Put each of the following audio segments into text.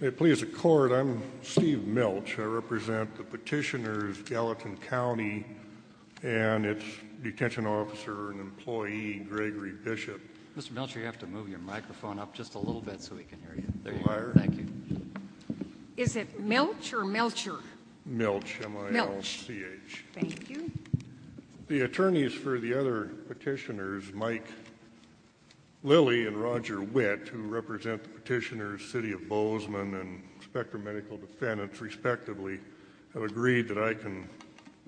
May it please the court, I'm Steve Milch. I represent the petitioners, Gallatin County and its detention officer and employee, Gregory Bishop. Mr. Milch, you have to move your microphone up just a little bit so we can hear you. There you are. Thank you. Is it Milch or Melcher? Milch, M-I-L-C-H. Thank you. The attorneys for the other petitioners, Mike Lilley and Roger Witt, who represent the petitioners, City of Bozeman and Spectrum Medical Defendants, respectively, have agreed that I can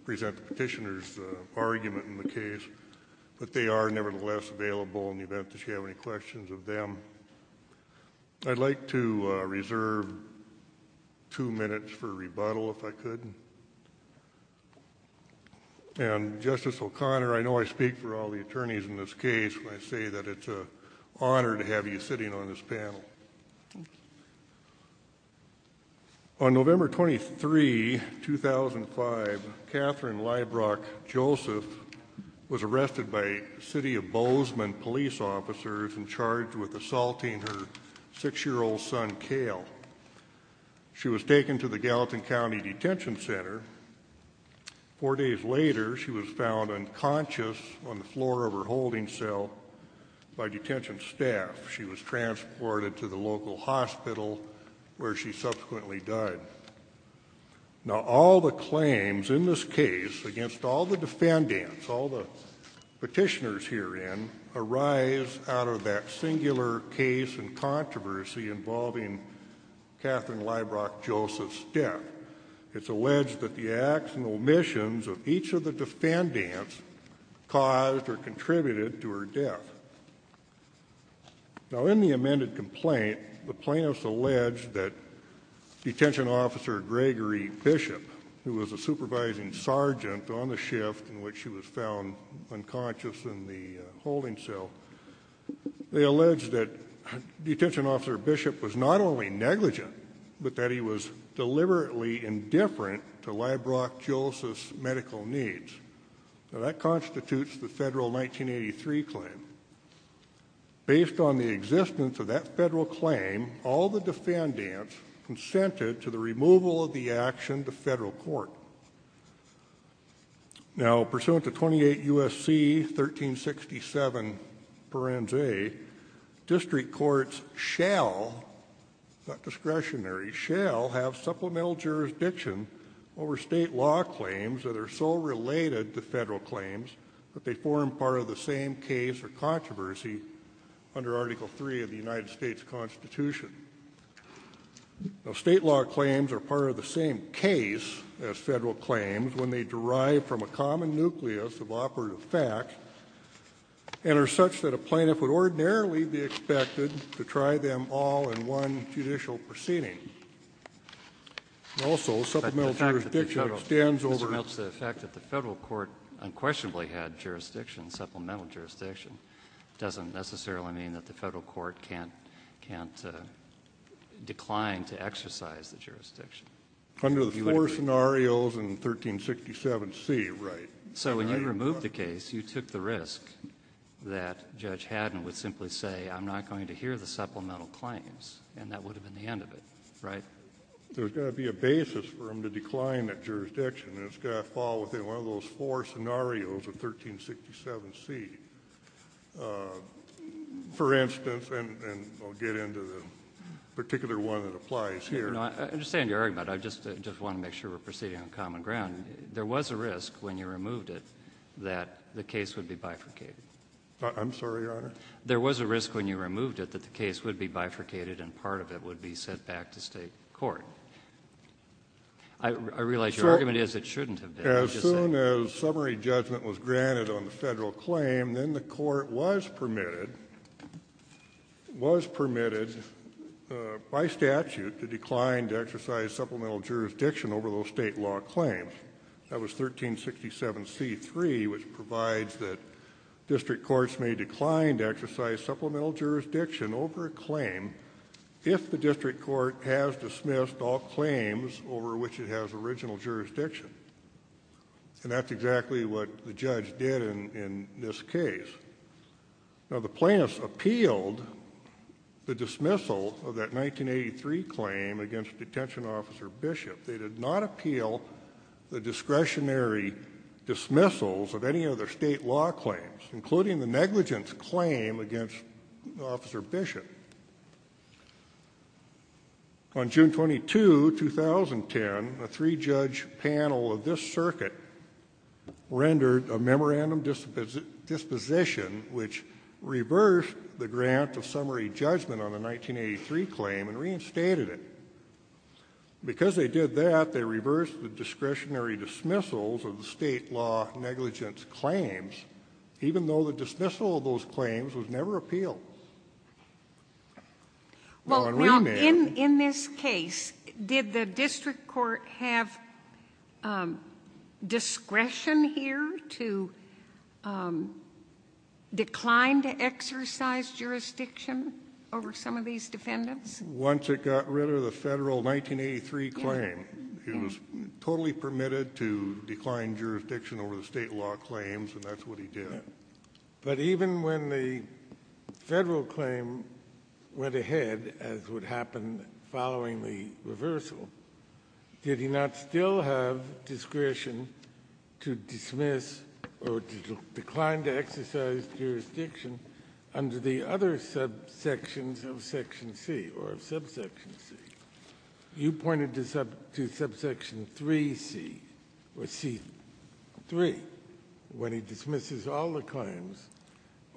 present the petitioners' argument in the case, but they are nevertheless available in the event that you have any questions of them. I'd like to reserve two minutes for rebuttal, if I could. And, Justice O'Connor, I know I speak for all the attorneys in this case when I say that it's an honor to have you sitting on this panel. On November 23, 2005, Katherine Leibrock-Joseph was arrested by City of Bozeman police officers and charged with assaulting her six-year-old son, Cale. She was taken to the Gallatin County Detention Center. Four days later, she was found unconscious on the floor of her holding cell by detention staff. She was transported to the local hospital, where she subsequently died. Now, all the claims in this case against all the defendants, all the petitioners herein, arise out of that singular case and controversy involving Katherine Leibrock-Joseph's death. It's alleged that the acts and omissions of each of the defendants caused or contributed to her death. Now, in the amended complaint, the plaintiffs alleged that Detention Officer Gregory Bishop, who was a supervising sergeant on the shift in which she was found unconscious in the holding cell, they alleged that Detention Officer Bishop was not only negligent, but that he was deliberately indifferent to Leibrock-Joseph's medical needs. Now, that constitutes the federal 1983 claim. Based on the existence of that federal claim, all the defendants consented to the removal of the action to federal court. Now, pursuant to 28 U.S.C. 1367 parense, district courts shall, not discretionary, shall have supplemental jurisdiction over state law claims that are so related to federal claims that they form part of the same case or controversy under Article III of the United States Constitution. Now, state law claims are part of the same case as federal claims when they derive from a common nucleus of operative fact and are such that a plaintiff would ordinarily be expected to try them all in one judicial proceeding. Also, supplemental jurisdiction extends over the fact that the federal court unquestionably had jurisdiction, supplemental jurisdiction, doesn't necessarily mean that the federal court can't decline to exercise the jurisdiction. Under the four scenarios in 1367C, right. So when you removed the case, you took the risk that Judge Haddon would simply say, I'm not going to hear the supplemental claims, and that would have been the end of it, right? There's got to be a basis for him to decline that jurisdiction, and it's got to fall within one of those four scenarios of 1367C. For instance, and I'll get into the particular one that applies here. I understand your argument. I just want to make sure we're proceeding on common ground. There was a risk when you removed it that the case would be bifurcated. I'm sorry, Your Honor? There was a risk when you removed it that the case would be bifurcated and part of it would be sent back to State court. I realize your argument is it shouldn't have been. As soon as summary judgment was granted on the federal claim, then the court was permitted by statute to decline to exercise supplemental jurisdiction over those state law claims. That was 1367C3, which provides that district courts may decline to exercise supplemental jurisdiction over a claim if the district court has dismissed all claims over which it has original jurisdiction, and that's exactly what the judge did in this case. Now, the plaintiffs appealed the dismissal of that 1983 claim against Detention Officer Bishop. They did not appeal the discretionary dismissals of any other state law claims, including the negligence claim against Officer Bishop. On June 22, 2010, a three-judge panel of this circuit rendered a memorandum disposition which reversed the grant of summary judgment on the 1983 claim and reinstated it. Because they did that, they reversed the discretionary dismissals of the state law negligence claims, even though the dismissal of those claims was never appealed. Well, in this case, did the district court have discretion here to decline to exercise jurisdiction over some of these defendants? Once it got rid of the federal 1983 claim, it was totally permitted to decline jurisdiction over the state law claims, and that's what he did. But even when the federal claim went ahead, as would happen following the reversal, did he not still have discretion to dismiss or to decline to exercise jurisdiction under the other subsections of Section C or of Subsection C? You pointed to Subsection 3C or C3, when he dismisses all the claims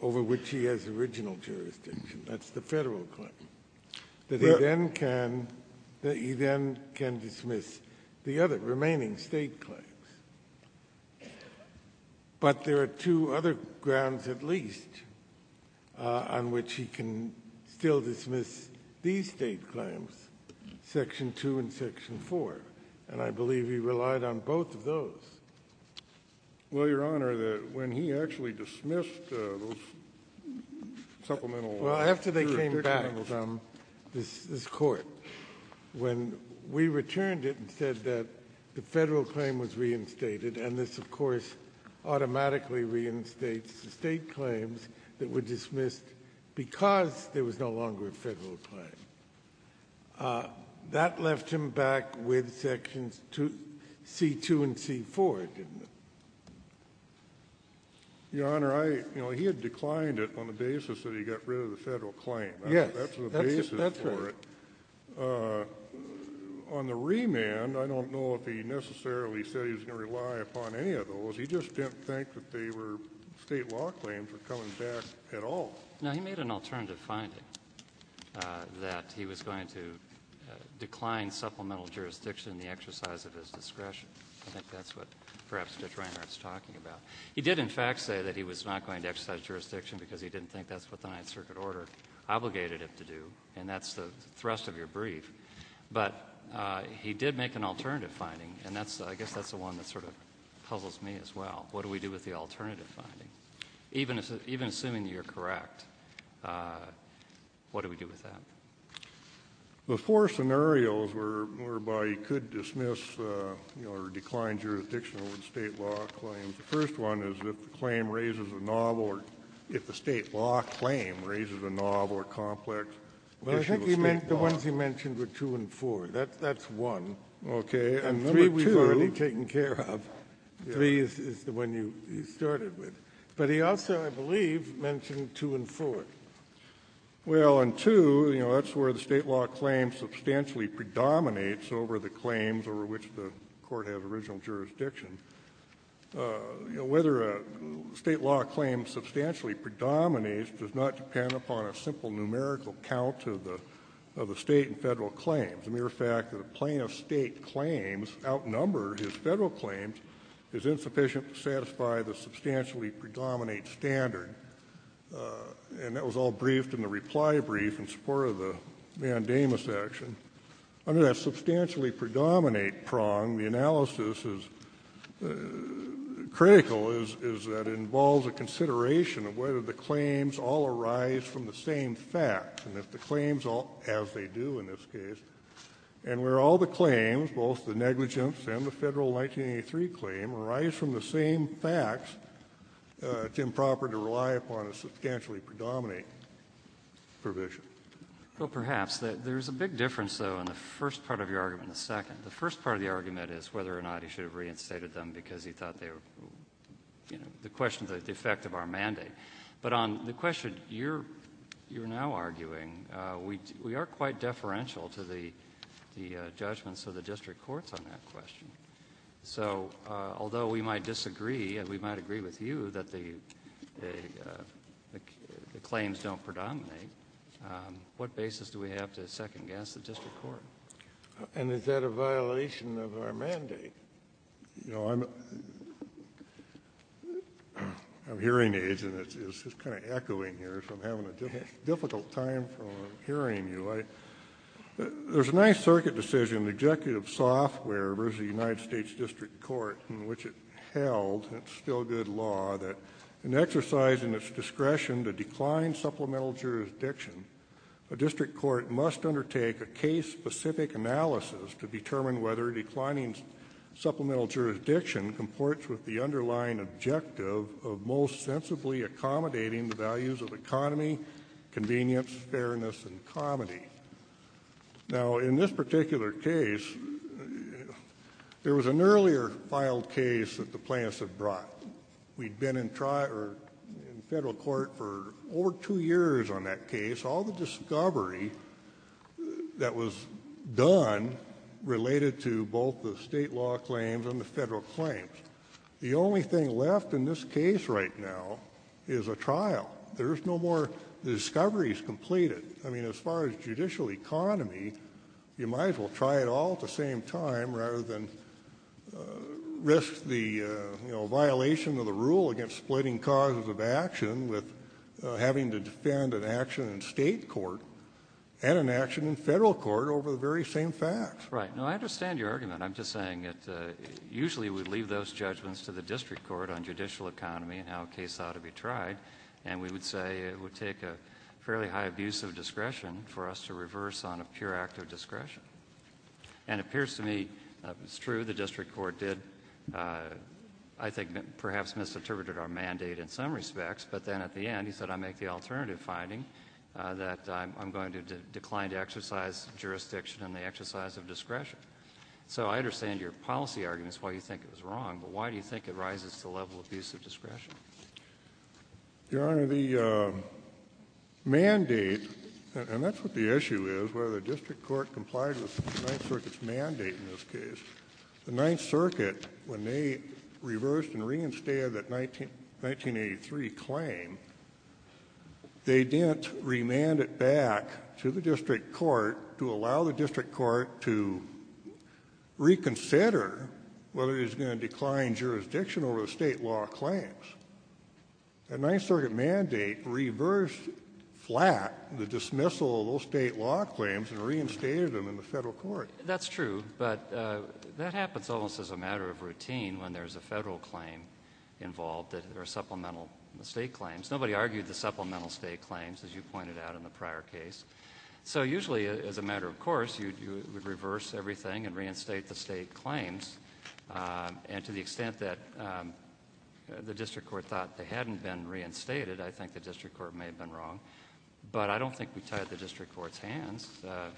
over which he has original jurisdiction. That's the federal claim. But he then can dismiss the other remaining state claims. But there are two other grounds at least on which he can still dismiss these state claims, Section 2 and Section 4. And I believe he relied on both of those. Well, Your Honor, when he actually dismissed those supplemental jurisdictional claims on this Court, when we returned it and said that the federal claim was reinstated and this, of course, automatically reinstates the state claims that were dismissed because there was no longer a federal claim, that left him back with Sections C2 and C4, didn't it? Your Honor, he had declined it on the basis that he got rid of the federal claim. Yes. That's the basis for it. That's right. On the remand, I don't know if he necessarily said he was going to rely upon any of the state claims. I don't think that they were state law claims were coming back at all. No, he made an alternative finding that he was going to decline supplemental jurisdiction in the exercise of his discretion. I think that's what perhaps Judge Reinhart's talking about. He did, in fact, say that he was not going to exercise jurisdiction because he didn't think that's what the Ninth Circuit order obligated him to do. And that's the thrust of your brief. But he did make an alternative finding. And I guess that's the one that sort of puzzles me as well. What do we do with the alternative finding? Even assuming that you're correct, what do we do with that? The four scenarios whereby he could dismiss, you know, or decline jurisdiction over the state law claims, the first one is if the claim raises a novel or if the state law claim raises a novel or complex issue of state law. Well, I think the ones he mentioned were two and four. That's one. Okay. And three we've already taken care of. Three is the one you started with. But he also, I believe, mentioned two and four. Well, and two, you know, that's where the state law claim substantially predominates over the claims over which the Court has original jurisdiction. You know, whether a state law claim substantially predominates does not depend upon a simple numerical count of the state and Federal claims. The mere fact that a plaintiff's state claims outnumber his Federal claims is insufficient to satisfy the substantially predominate standard. And that was all briefed in the reply brief in support of the mandamus action. Under that substantially predominate prong, the analysis is critical is that it involves a consideration of whether the claims all arise from the same facts. And if the claims all, as they do in this case, and where all the claims, both the negligence and the Federal 1983 claim, arise from the same facts, it's improper to rely upon a substantially predominate provision. Well, perhaps. There's a big difference, though, in the first part of your argument than the second. The first part of the argument is whether or not he should have reinstated them because he thought they were, you know, the question of the effect of our mandate. But on the question you're now arguing, we are quite deferential to the judgments of the district courts on that question. So although we might disagree and we might agree with you that the claims don't predominate, what basis do we have to second-guess the district court? And is that a violation of our mandate? You know, I'm hearing aids, and it's kind of echoing here, so I'm having a difficult time hearing you. There's a nice circuit decision, the executive software versus the United States District Court, in which it held, and it's still good law, that in exercising its discretion to decline supplemental jurisdiction, a district court must undertake a case-specific analysis to determine whether declining supplemental jurisdiction comports with the underlying objective of most sensibly accommodating the values of economy, convenience, fairness, and comedy. Now, in this particular case, there was an earlier filed case that the plaintiffs had brought. We'd been in federal court for over two years on that case. We saw the discovery that was done related to both the state law claims and the federal claims. The only thing left in this case right now is a trial. There's no more discoveries completed. I mean, as far as judicial economy, you might as well try it all at the same time rather than risk the, you know, violation of the rule against splitting causes of having to defend an action in state court and an action in federal court over the very same facts. Right. No, I understand your argument. I'm just saying that usually we leave those judgments to the district court on judicial economy and how a case ought to be tried, and we would say it would take a fairly high abuse of discretion for us to reverse on a pure act of discretion. And it appears to me that was true. The district court did, I think, perhaps misinterpreted our mandate in some respects, but then at the end he said I make the alternative finding that I'm going to decline to exercise jurisdiction in the exercise of discretion. So I understand your policy arguments, why you think it was wrong, but why do you think it rises to the level of abuse of discretion? Your Honor, the mandate, and that's what the issue is, whether the district court complied with the Ninth Circuit's mandate in this case. The Ninth Circuit, when they reversed and reinstated that 1983 claim, they didn't remand it back to the district court to allow the district court to reconsider whether it was going to decline jurisdiction over the state law claims. The Ninth Circuit mandate reversed flat the dismissal of those state law claims and reinstated them in the federal court. That's true, but that happens almost as a matter of routine when there's a federal claim involved or supplemental state claims. Nobody argued the supplemental state claims, as you pointed out in the prior case. So usually, as a matter of course, you would reverse everything and reinstate the state claims, and to the extent that the district court thought they hadn't been reinstated, I think the district court may have been wrong. But I don't think we tied the district court's hands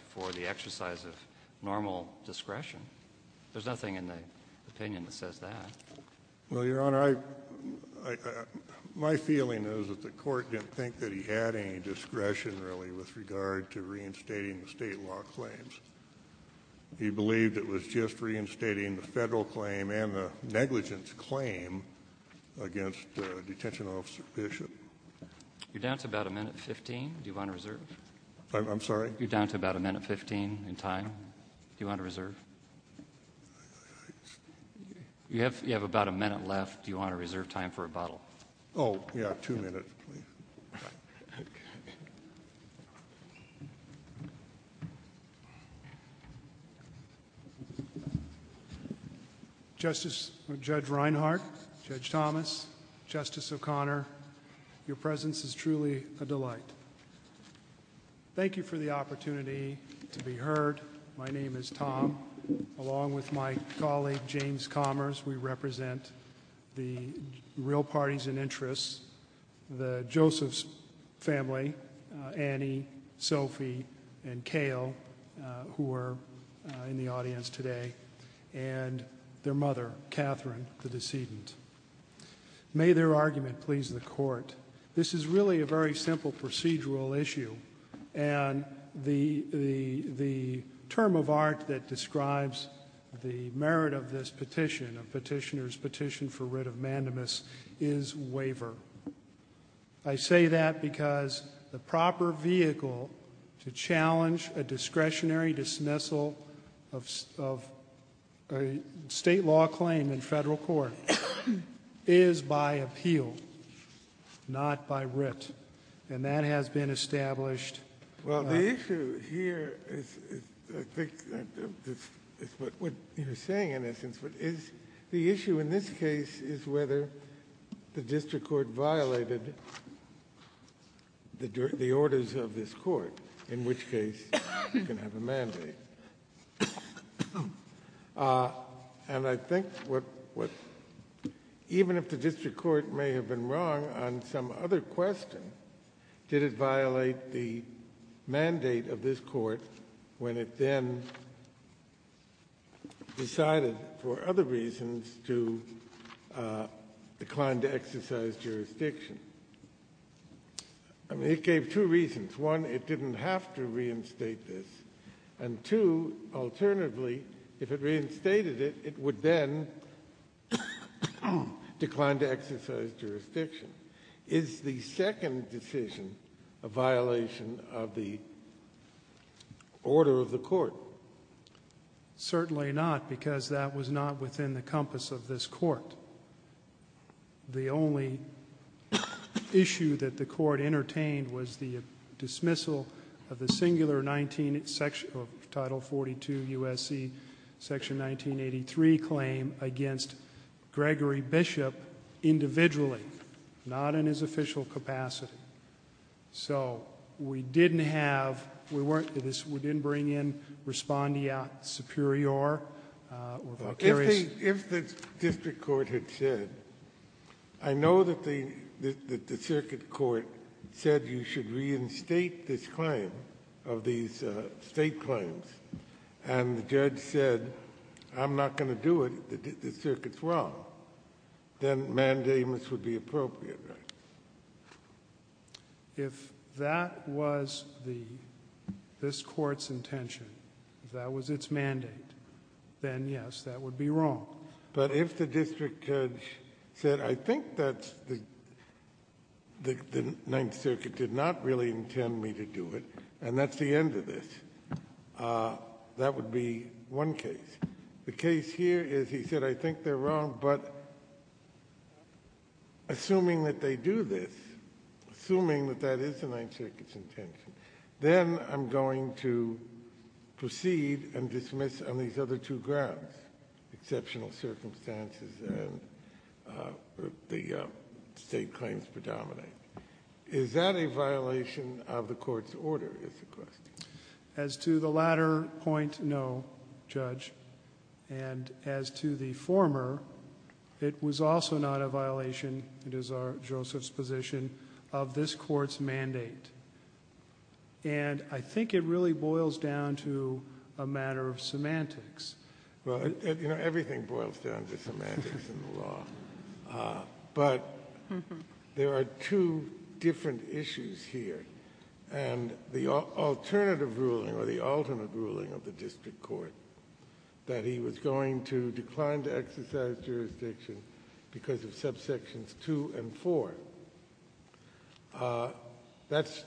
for the exercise of normal discretion. There's nothing in the opinion that says that. Well, Your Honor, I — my feeling is that the court didn't think that he had any discretion, really, with regard to reinstating the state law claims. He believed it was just reinstating the federal claim and the negligence claim against Detention Officer Bishop. You're down to about a minute 15. Do you want to reserve? I'm sorry? You're down to about a minute 15 in time. Do you want to reserve? You have about a minute left. Do you want to reserve time for rebuttal? Oh, yeah. Two minutes, please. Thank you. Justice — Judge Reinhart, Judge Thomas, Justice O'Connor, your presence is truly a delight. Thank you for the opportunity to be heard. My name is Tom. Along with my colleague, James Commers, we represent the real parties in interest. The Josephs family, Annie, Sophie, and Cale, who are in the audience today, and their mother, Catherine, the decedent. May their argument please the Court. This is really a very simple procedural issue. And the term of art that describes the merit of this petition, a petitioner's petition for writ of mandamus, is waiver. I say that because the proper vehicle to challenge a discretionary dismissal of a State law claim in Federal court is by appeal, not by writ. And that has been established. Well, the issue here is — I think it's what you're saying, in essence. But the issue in this case is whether the district court violated the orders of this court, in which case you can have a mandate. And I think what — even if the district court may have been wrong on some other question, did it violate the mandate of this court when it then decided, for other reasons, to decline to exercise jurisdiction? I mean, it gave two reasons. One, it didn't have to reinstate this. And two, alternatively, if it reinstated it, it would then decline to exercise jurisdiction. Is the second decision a violation of the order of the court? Certainly not, because that was not within the compass of this court. The only issue that the court entertained was the dismissal of the singular title 42 U.S.C. Section 1983 claim against Gregory Bishop individually, not in his official capacity. So we didn't have — we weren't — we didn't bring in Respondiat Superior or Valkyries. If the district court had said, I know that the circuit court said you should reinstate this claim, of these State claims, and the judge said, I'm not going to do it, the circuit's wrong, then mandamus would be appropriate, right? If that was the — this Court's intention, that was its mandate, then, yes, that would be wrong. But if the district judge said, I think that the Ninth Circuit did not really intend me to do it, and that's the end of this, that would be one case. The case here is he said, I think they're wrong, but assuming that they do this, assuming that that is the Ninth Circuit's intention, then I'm going to proceed and dismiss on these other two grounds, exceptional circumstances and the State claims predominate. Is that a violation of the Court's order, is the question? As to the latter point, no, Judge. And as to the former, it was also not a violation, it is our — Joseph's position, of this Court's mandate. And I think it really boils down to a matter of semantics. Well, you know, everything boils down to semantics in the law. But there are two different issues here. And the alternative ruling, or the ultimate ruling of the district court, that he was going to decline to exercise jurisdiction because of subsections 2 and 4, that's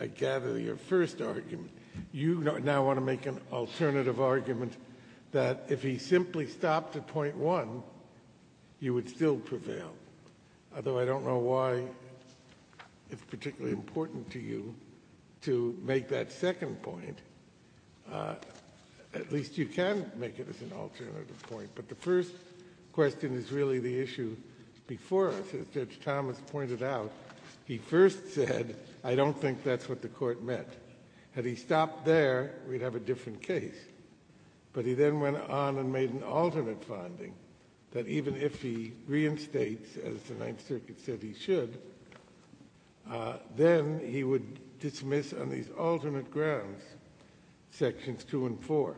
I gather your first argument. You now want to make an alternative argument that if he simply stopped at point 1, you would still prevail, although I don't know why it's particularly important to you to make that second point. At least you can make it as an alternative point. But the first question is really the issue before us. As Judge Thomas pointed out, he first said, I don't think that's what the Court meant. Had he stopped there, we'd have a different case. But he then went on and made an alternate finding, that even if he reinstates, as the Ninth Circuit said he should, then he would dismiss on these alternate grounds sections 2 and 4.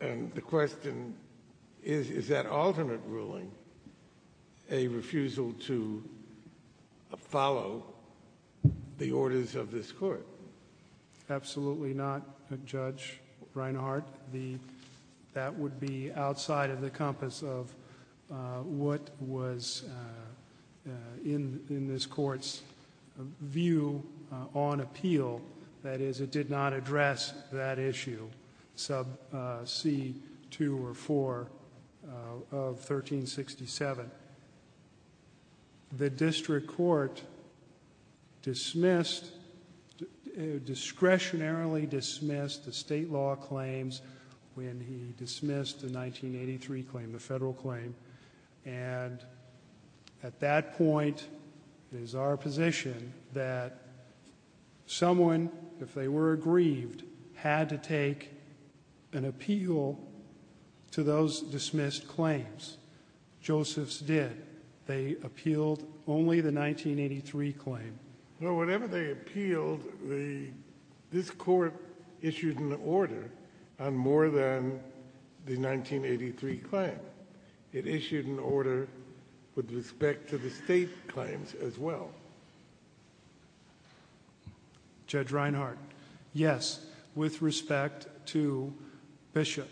And the question is, is that alternate ruling a refusal to follow the orders of this Court? Absolutely not, Judge Reinhart. That would be outside of the compass of what was in this Court's view on appeal. That is, it did not address that issue, sub c 2 or 4 of 1367. The district court dismissed, discretionarily dismissed the State law claims when he dismissed the 1983 claim, the Federal claim. And at that point, it is our position that someone, if they were aggrieved, had to take an appeal to those dismissed claims. Joseph's did. They appealed only the 1983 claim. Well, whenever they appealed, this Court issued an order on more than the 1983 claim. It issued an order with respect to the State claims as well. Judge Reinhart, yes, with respect to Bishop,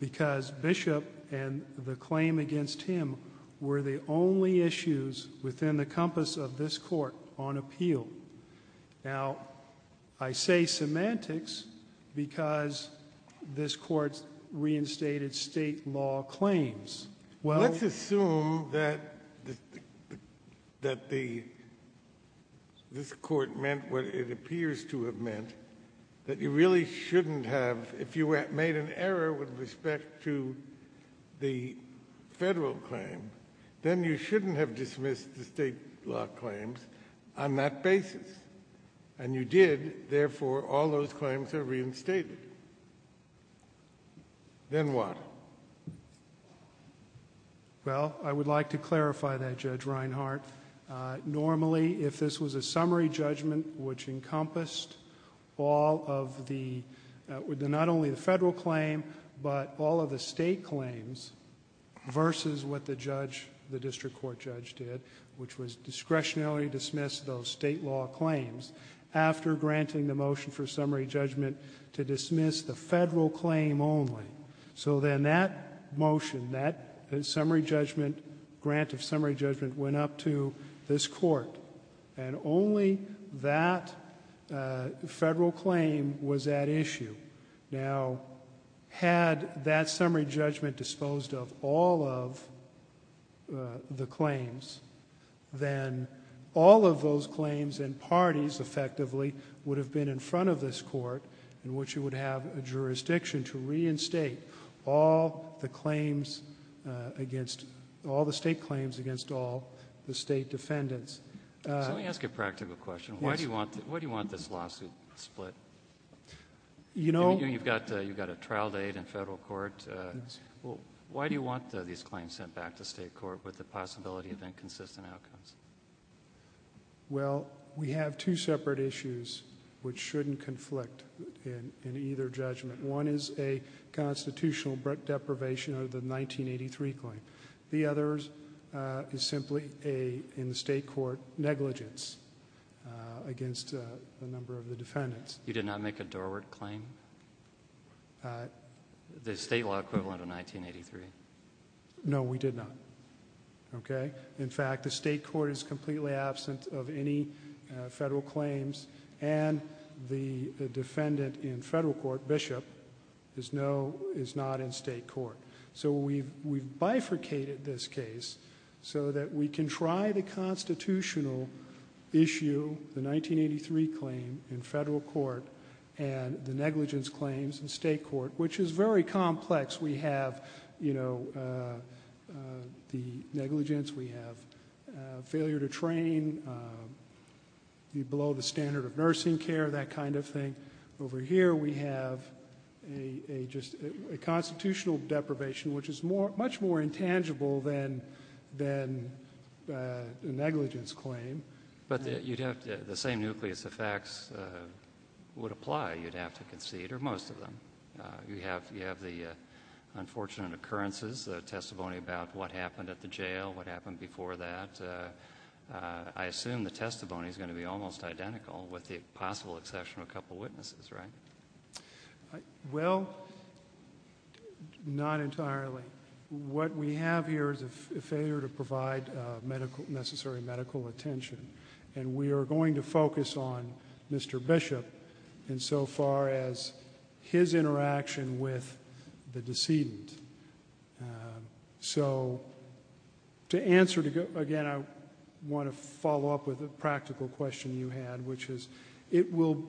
because Bishop and the claim against him were the only issues within the compass of this Court on appeal. Now, I say semantics because this Court's reinstated State law claims. Let's assume that this Court meant what it appears to have meant, that you really shouldn't have, if you made an error with respect to the Federal claim, then you shouldn't have dismissed the State law claims. On that basis, and you did, therefore, all those claims are reinstated. Then what? Well, I would like to clarify that, Judge Reinhart. Normally, if this was a summary judgment which encompassed all of the — not only the Federal claim, but all of the State claims, versus what the judge, the district court judge did, which was discretionarily dismiss those State law claims, after granting the motion for summary judgment to dismiss the Federal claim only. So then that motion, that summary judgment, grant of summary judgment, went up to this Court, and only that Federal claim was at issue. Now, had that summary judgment disposed of all of the claims, then all of those claims and parties, effectively, would have been in front of this Court in which it would have a jurisdiction to reinstate all the claims against — all the State claims against all the State defendants. Let me ask a practical question. Yes. Why do you want this lawsuit split? You know — You've got a trial date in Federal court. Why do you want these claims sent back to State court with the possibility of inconsistent outcomes? Well, we have two separate issues which shouldn't conflict in either judgment. One is a constitutional deprivation of the 1983 claim. The other is simply a — in the State court, negligence against a number of the defendants. You did not make a Dorward claim? The State law equivalent of 1983. No, we did not. Okay? In fact, the State court is completely absent of any Federal claims, and the defendant in Federal court, Bishop, is no — is not in State court. So we've bifurcated this case so that we can try the constitutional issue, the 1983 claim, in Federal court and the negligence claims in State court, which is very complex. We have, you know, the negligence. We have failure to train, below the standard of nursing care, that kind of thing. Over here, we have a constitutional deprivation, which is much more intangible than the negligence claim. But you'd have to — the same nucleus effects would apply. You'd have to concede, or most of them. You have the unfortunate occurrences, the testimony about what happened at the jail, what happened before that. I assume the testimony is going to be almost identical, with the possible exception of a couple witnesses, right? Well, not entirely. What we have here is a failure to provide medical — necessary medical attention. And we are going to focus on Mr. Bishop insofar as his interaction with the decedent. So to answer — again, I want to follow up with a practical question you had, which is, it will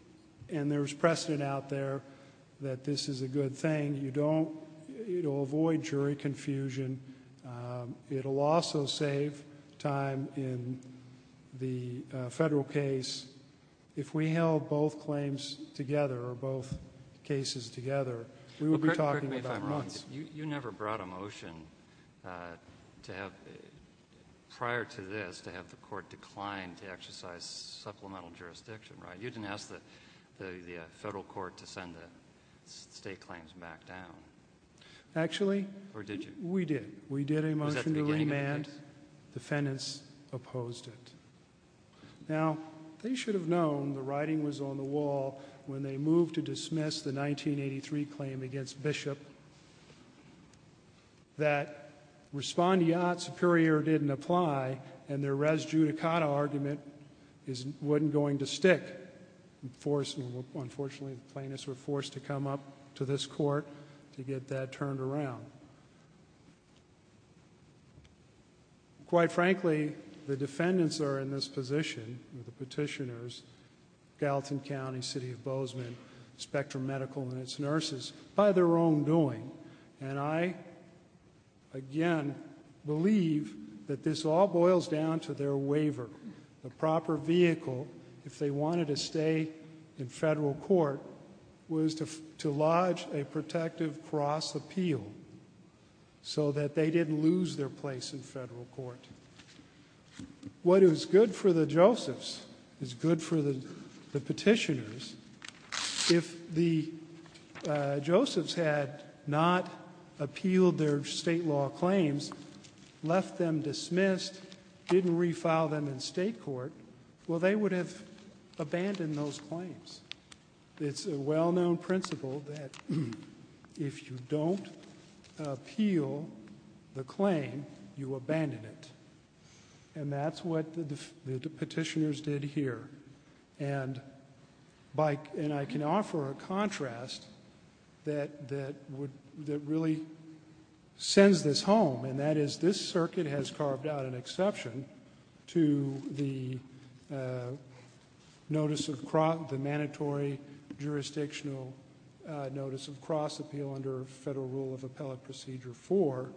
— and there's precedent out there that this is a good thing. You don't — it will avoid jury confusion. It will also save time in the Federal case. If we held both claims together, or both cases together, we would be talking about Well, correct me if I'm wrong. You never brought a motion to have — prior to this, to have the court decline to exercise supplemental jurisdiction, right? You didn't ask the Federal court to send the state claims back down. Actually, we did. We did a motion to remand. Was that the beginning of the case? Defendants opposed it. Now, they should have known the writing was on the wall when they moved to dismiss the 1983 claim against Bishop. That respondeat superior didn't apply, and their res judicata argument wasn't going to stick. Unfortunately, the plaintiffs were forced to come up to this court to get that turned around. Quite frankly, the defendants are in this position, the petitioners, Gallatin County, City of Bozeman, Spectrum Medical, and its nurses, by their own doing. And I, again, believe that this all boils down to their waiver. The proper vehicle, if they wanted to stay in Federal court, was to lodge a protective cross appeal so that they didn't lose their place in Federal court. What is good for the Josephs is good for the petitioners. If the Josephs had not appealed their state law claims, left them dismissed, didn't refile them in state court, well, they would have abandoned those claims. It's a well-known principle that if you don't appeal the claim, you abandon it. And that's what the petitioners did here. And I can offer a contrast that really sends this home, and that is this circuit has carved out an exception to the mandatory jurisdictional notice of cross appeal under Federal Rule of Appellate Procedure 4,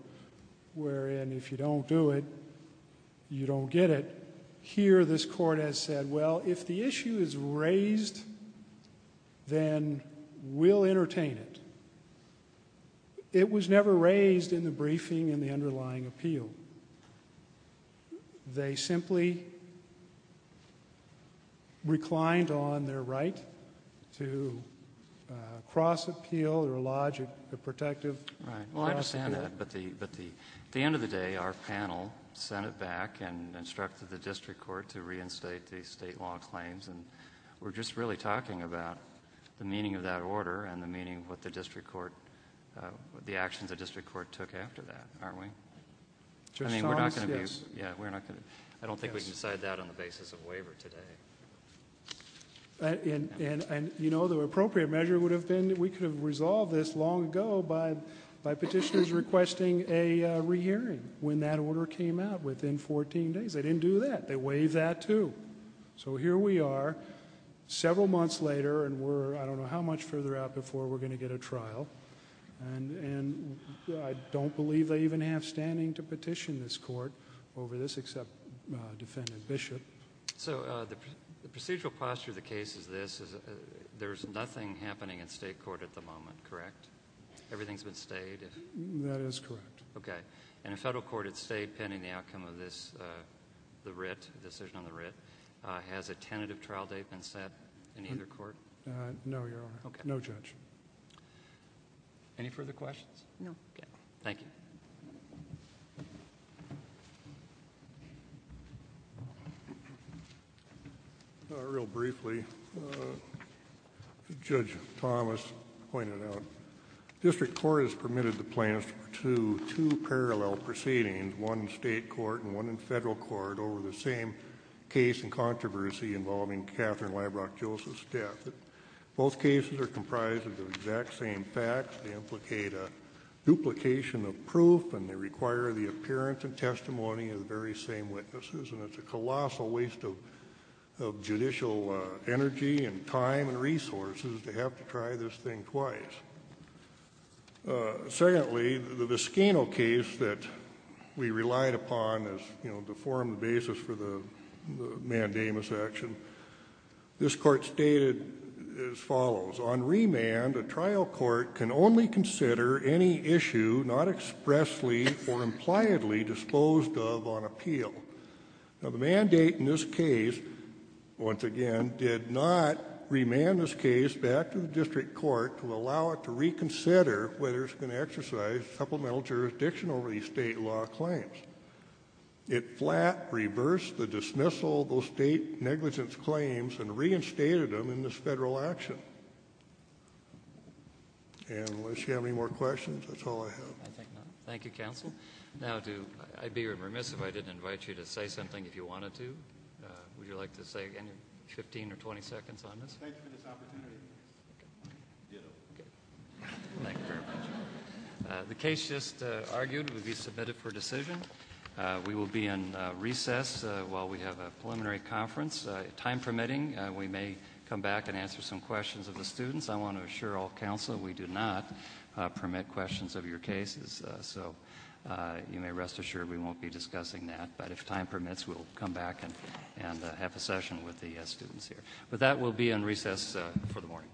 wherein if you don't do it, you don't get it. Here, this court has said, well, if the issue is raised, then we'll entertain it. It was never raised in the briefing in the underlying appeal. They simply reclined on their right to cross appeal or lodge a protective cross appeal. Right. Well, I understand that. But at the end of the day, our panel sent it back and instructed the district court to reinstate the state law claims. And we're just really talking about the meaning of that order and the meaning of what the actions the district court took after that, aren't we? I mean, we're not going to be... I don't think we can decide that on the basis of waiver today. And, you know, the appropriate measure would have been that we could have resolved this long ago by petitioners requesting a rehearing when that order came out within 14 days. They didn't do that. They waived that, too. So here we are, several months later, and we're, I don't know how much further out before we're going to get a trial. And I don't believe they even have standing to petition this court over this except Defendant Bishop. So the procedural posture of the case is this. There's nothing happening in state court at the moment, correct? Everything's been stayed? That is correct. Okay. And a federal court at state pending the outcome of this, the writ, the decision on the writ, has a tentative trial date been set in either court? No, Your Honor. Okay. No judge. Any further questions? No. Okay. Thank you. Real briefly, Judge Thomas pointed out, district court has permitted the plaintiffs to do two parallel proceedings, one in state court and one in federal court, over the same case and controversy involving Katherine Leibrock Joseph's death. Both cases are comprised of the exact same facts. They implicate a duplication of proof, and they require the appearance and testimony of the very same witnesses. And it's a colossal waste of judicial energy and time and resources to have to try this thing twice. Secondly, the Vescano case that we relied upon as, you know, to form the basis for the mandamus action, this court stated as follows. On remand, a trial court can only consider any issue not expressly or impliedly disposed of on appeal. Now, the mandate in this case, once again, did not remand this case back to the district court to allow it to reconsider whether it's going to exercise supplemental jurisdiction over these state law claims. It flat reversed the dismissal of those state negligence claims and reinstated them in this federal action. And unless you have any more questions, that's all I have. I think not. Thank you, counsel. Now, I'd be remiss if I didn't invite you to say something if you wanted to. Would you like to say anything, 15 or 20 seconds on this? Thank you for this opportunity. Ditto. Thank you very much. The case just argued will be submitted for decision. We will be in recess while we have a preliminary conference. Time permitting, we may come back and answer some questions of the students. I want to assure all counsel we do not permit questions of your cases, so you may rest assured we won't be discussing that. But if time permits, we'll come back and have a session with the students here. But that will be in recess for the morning.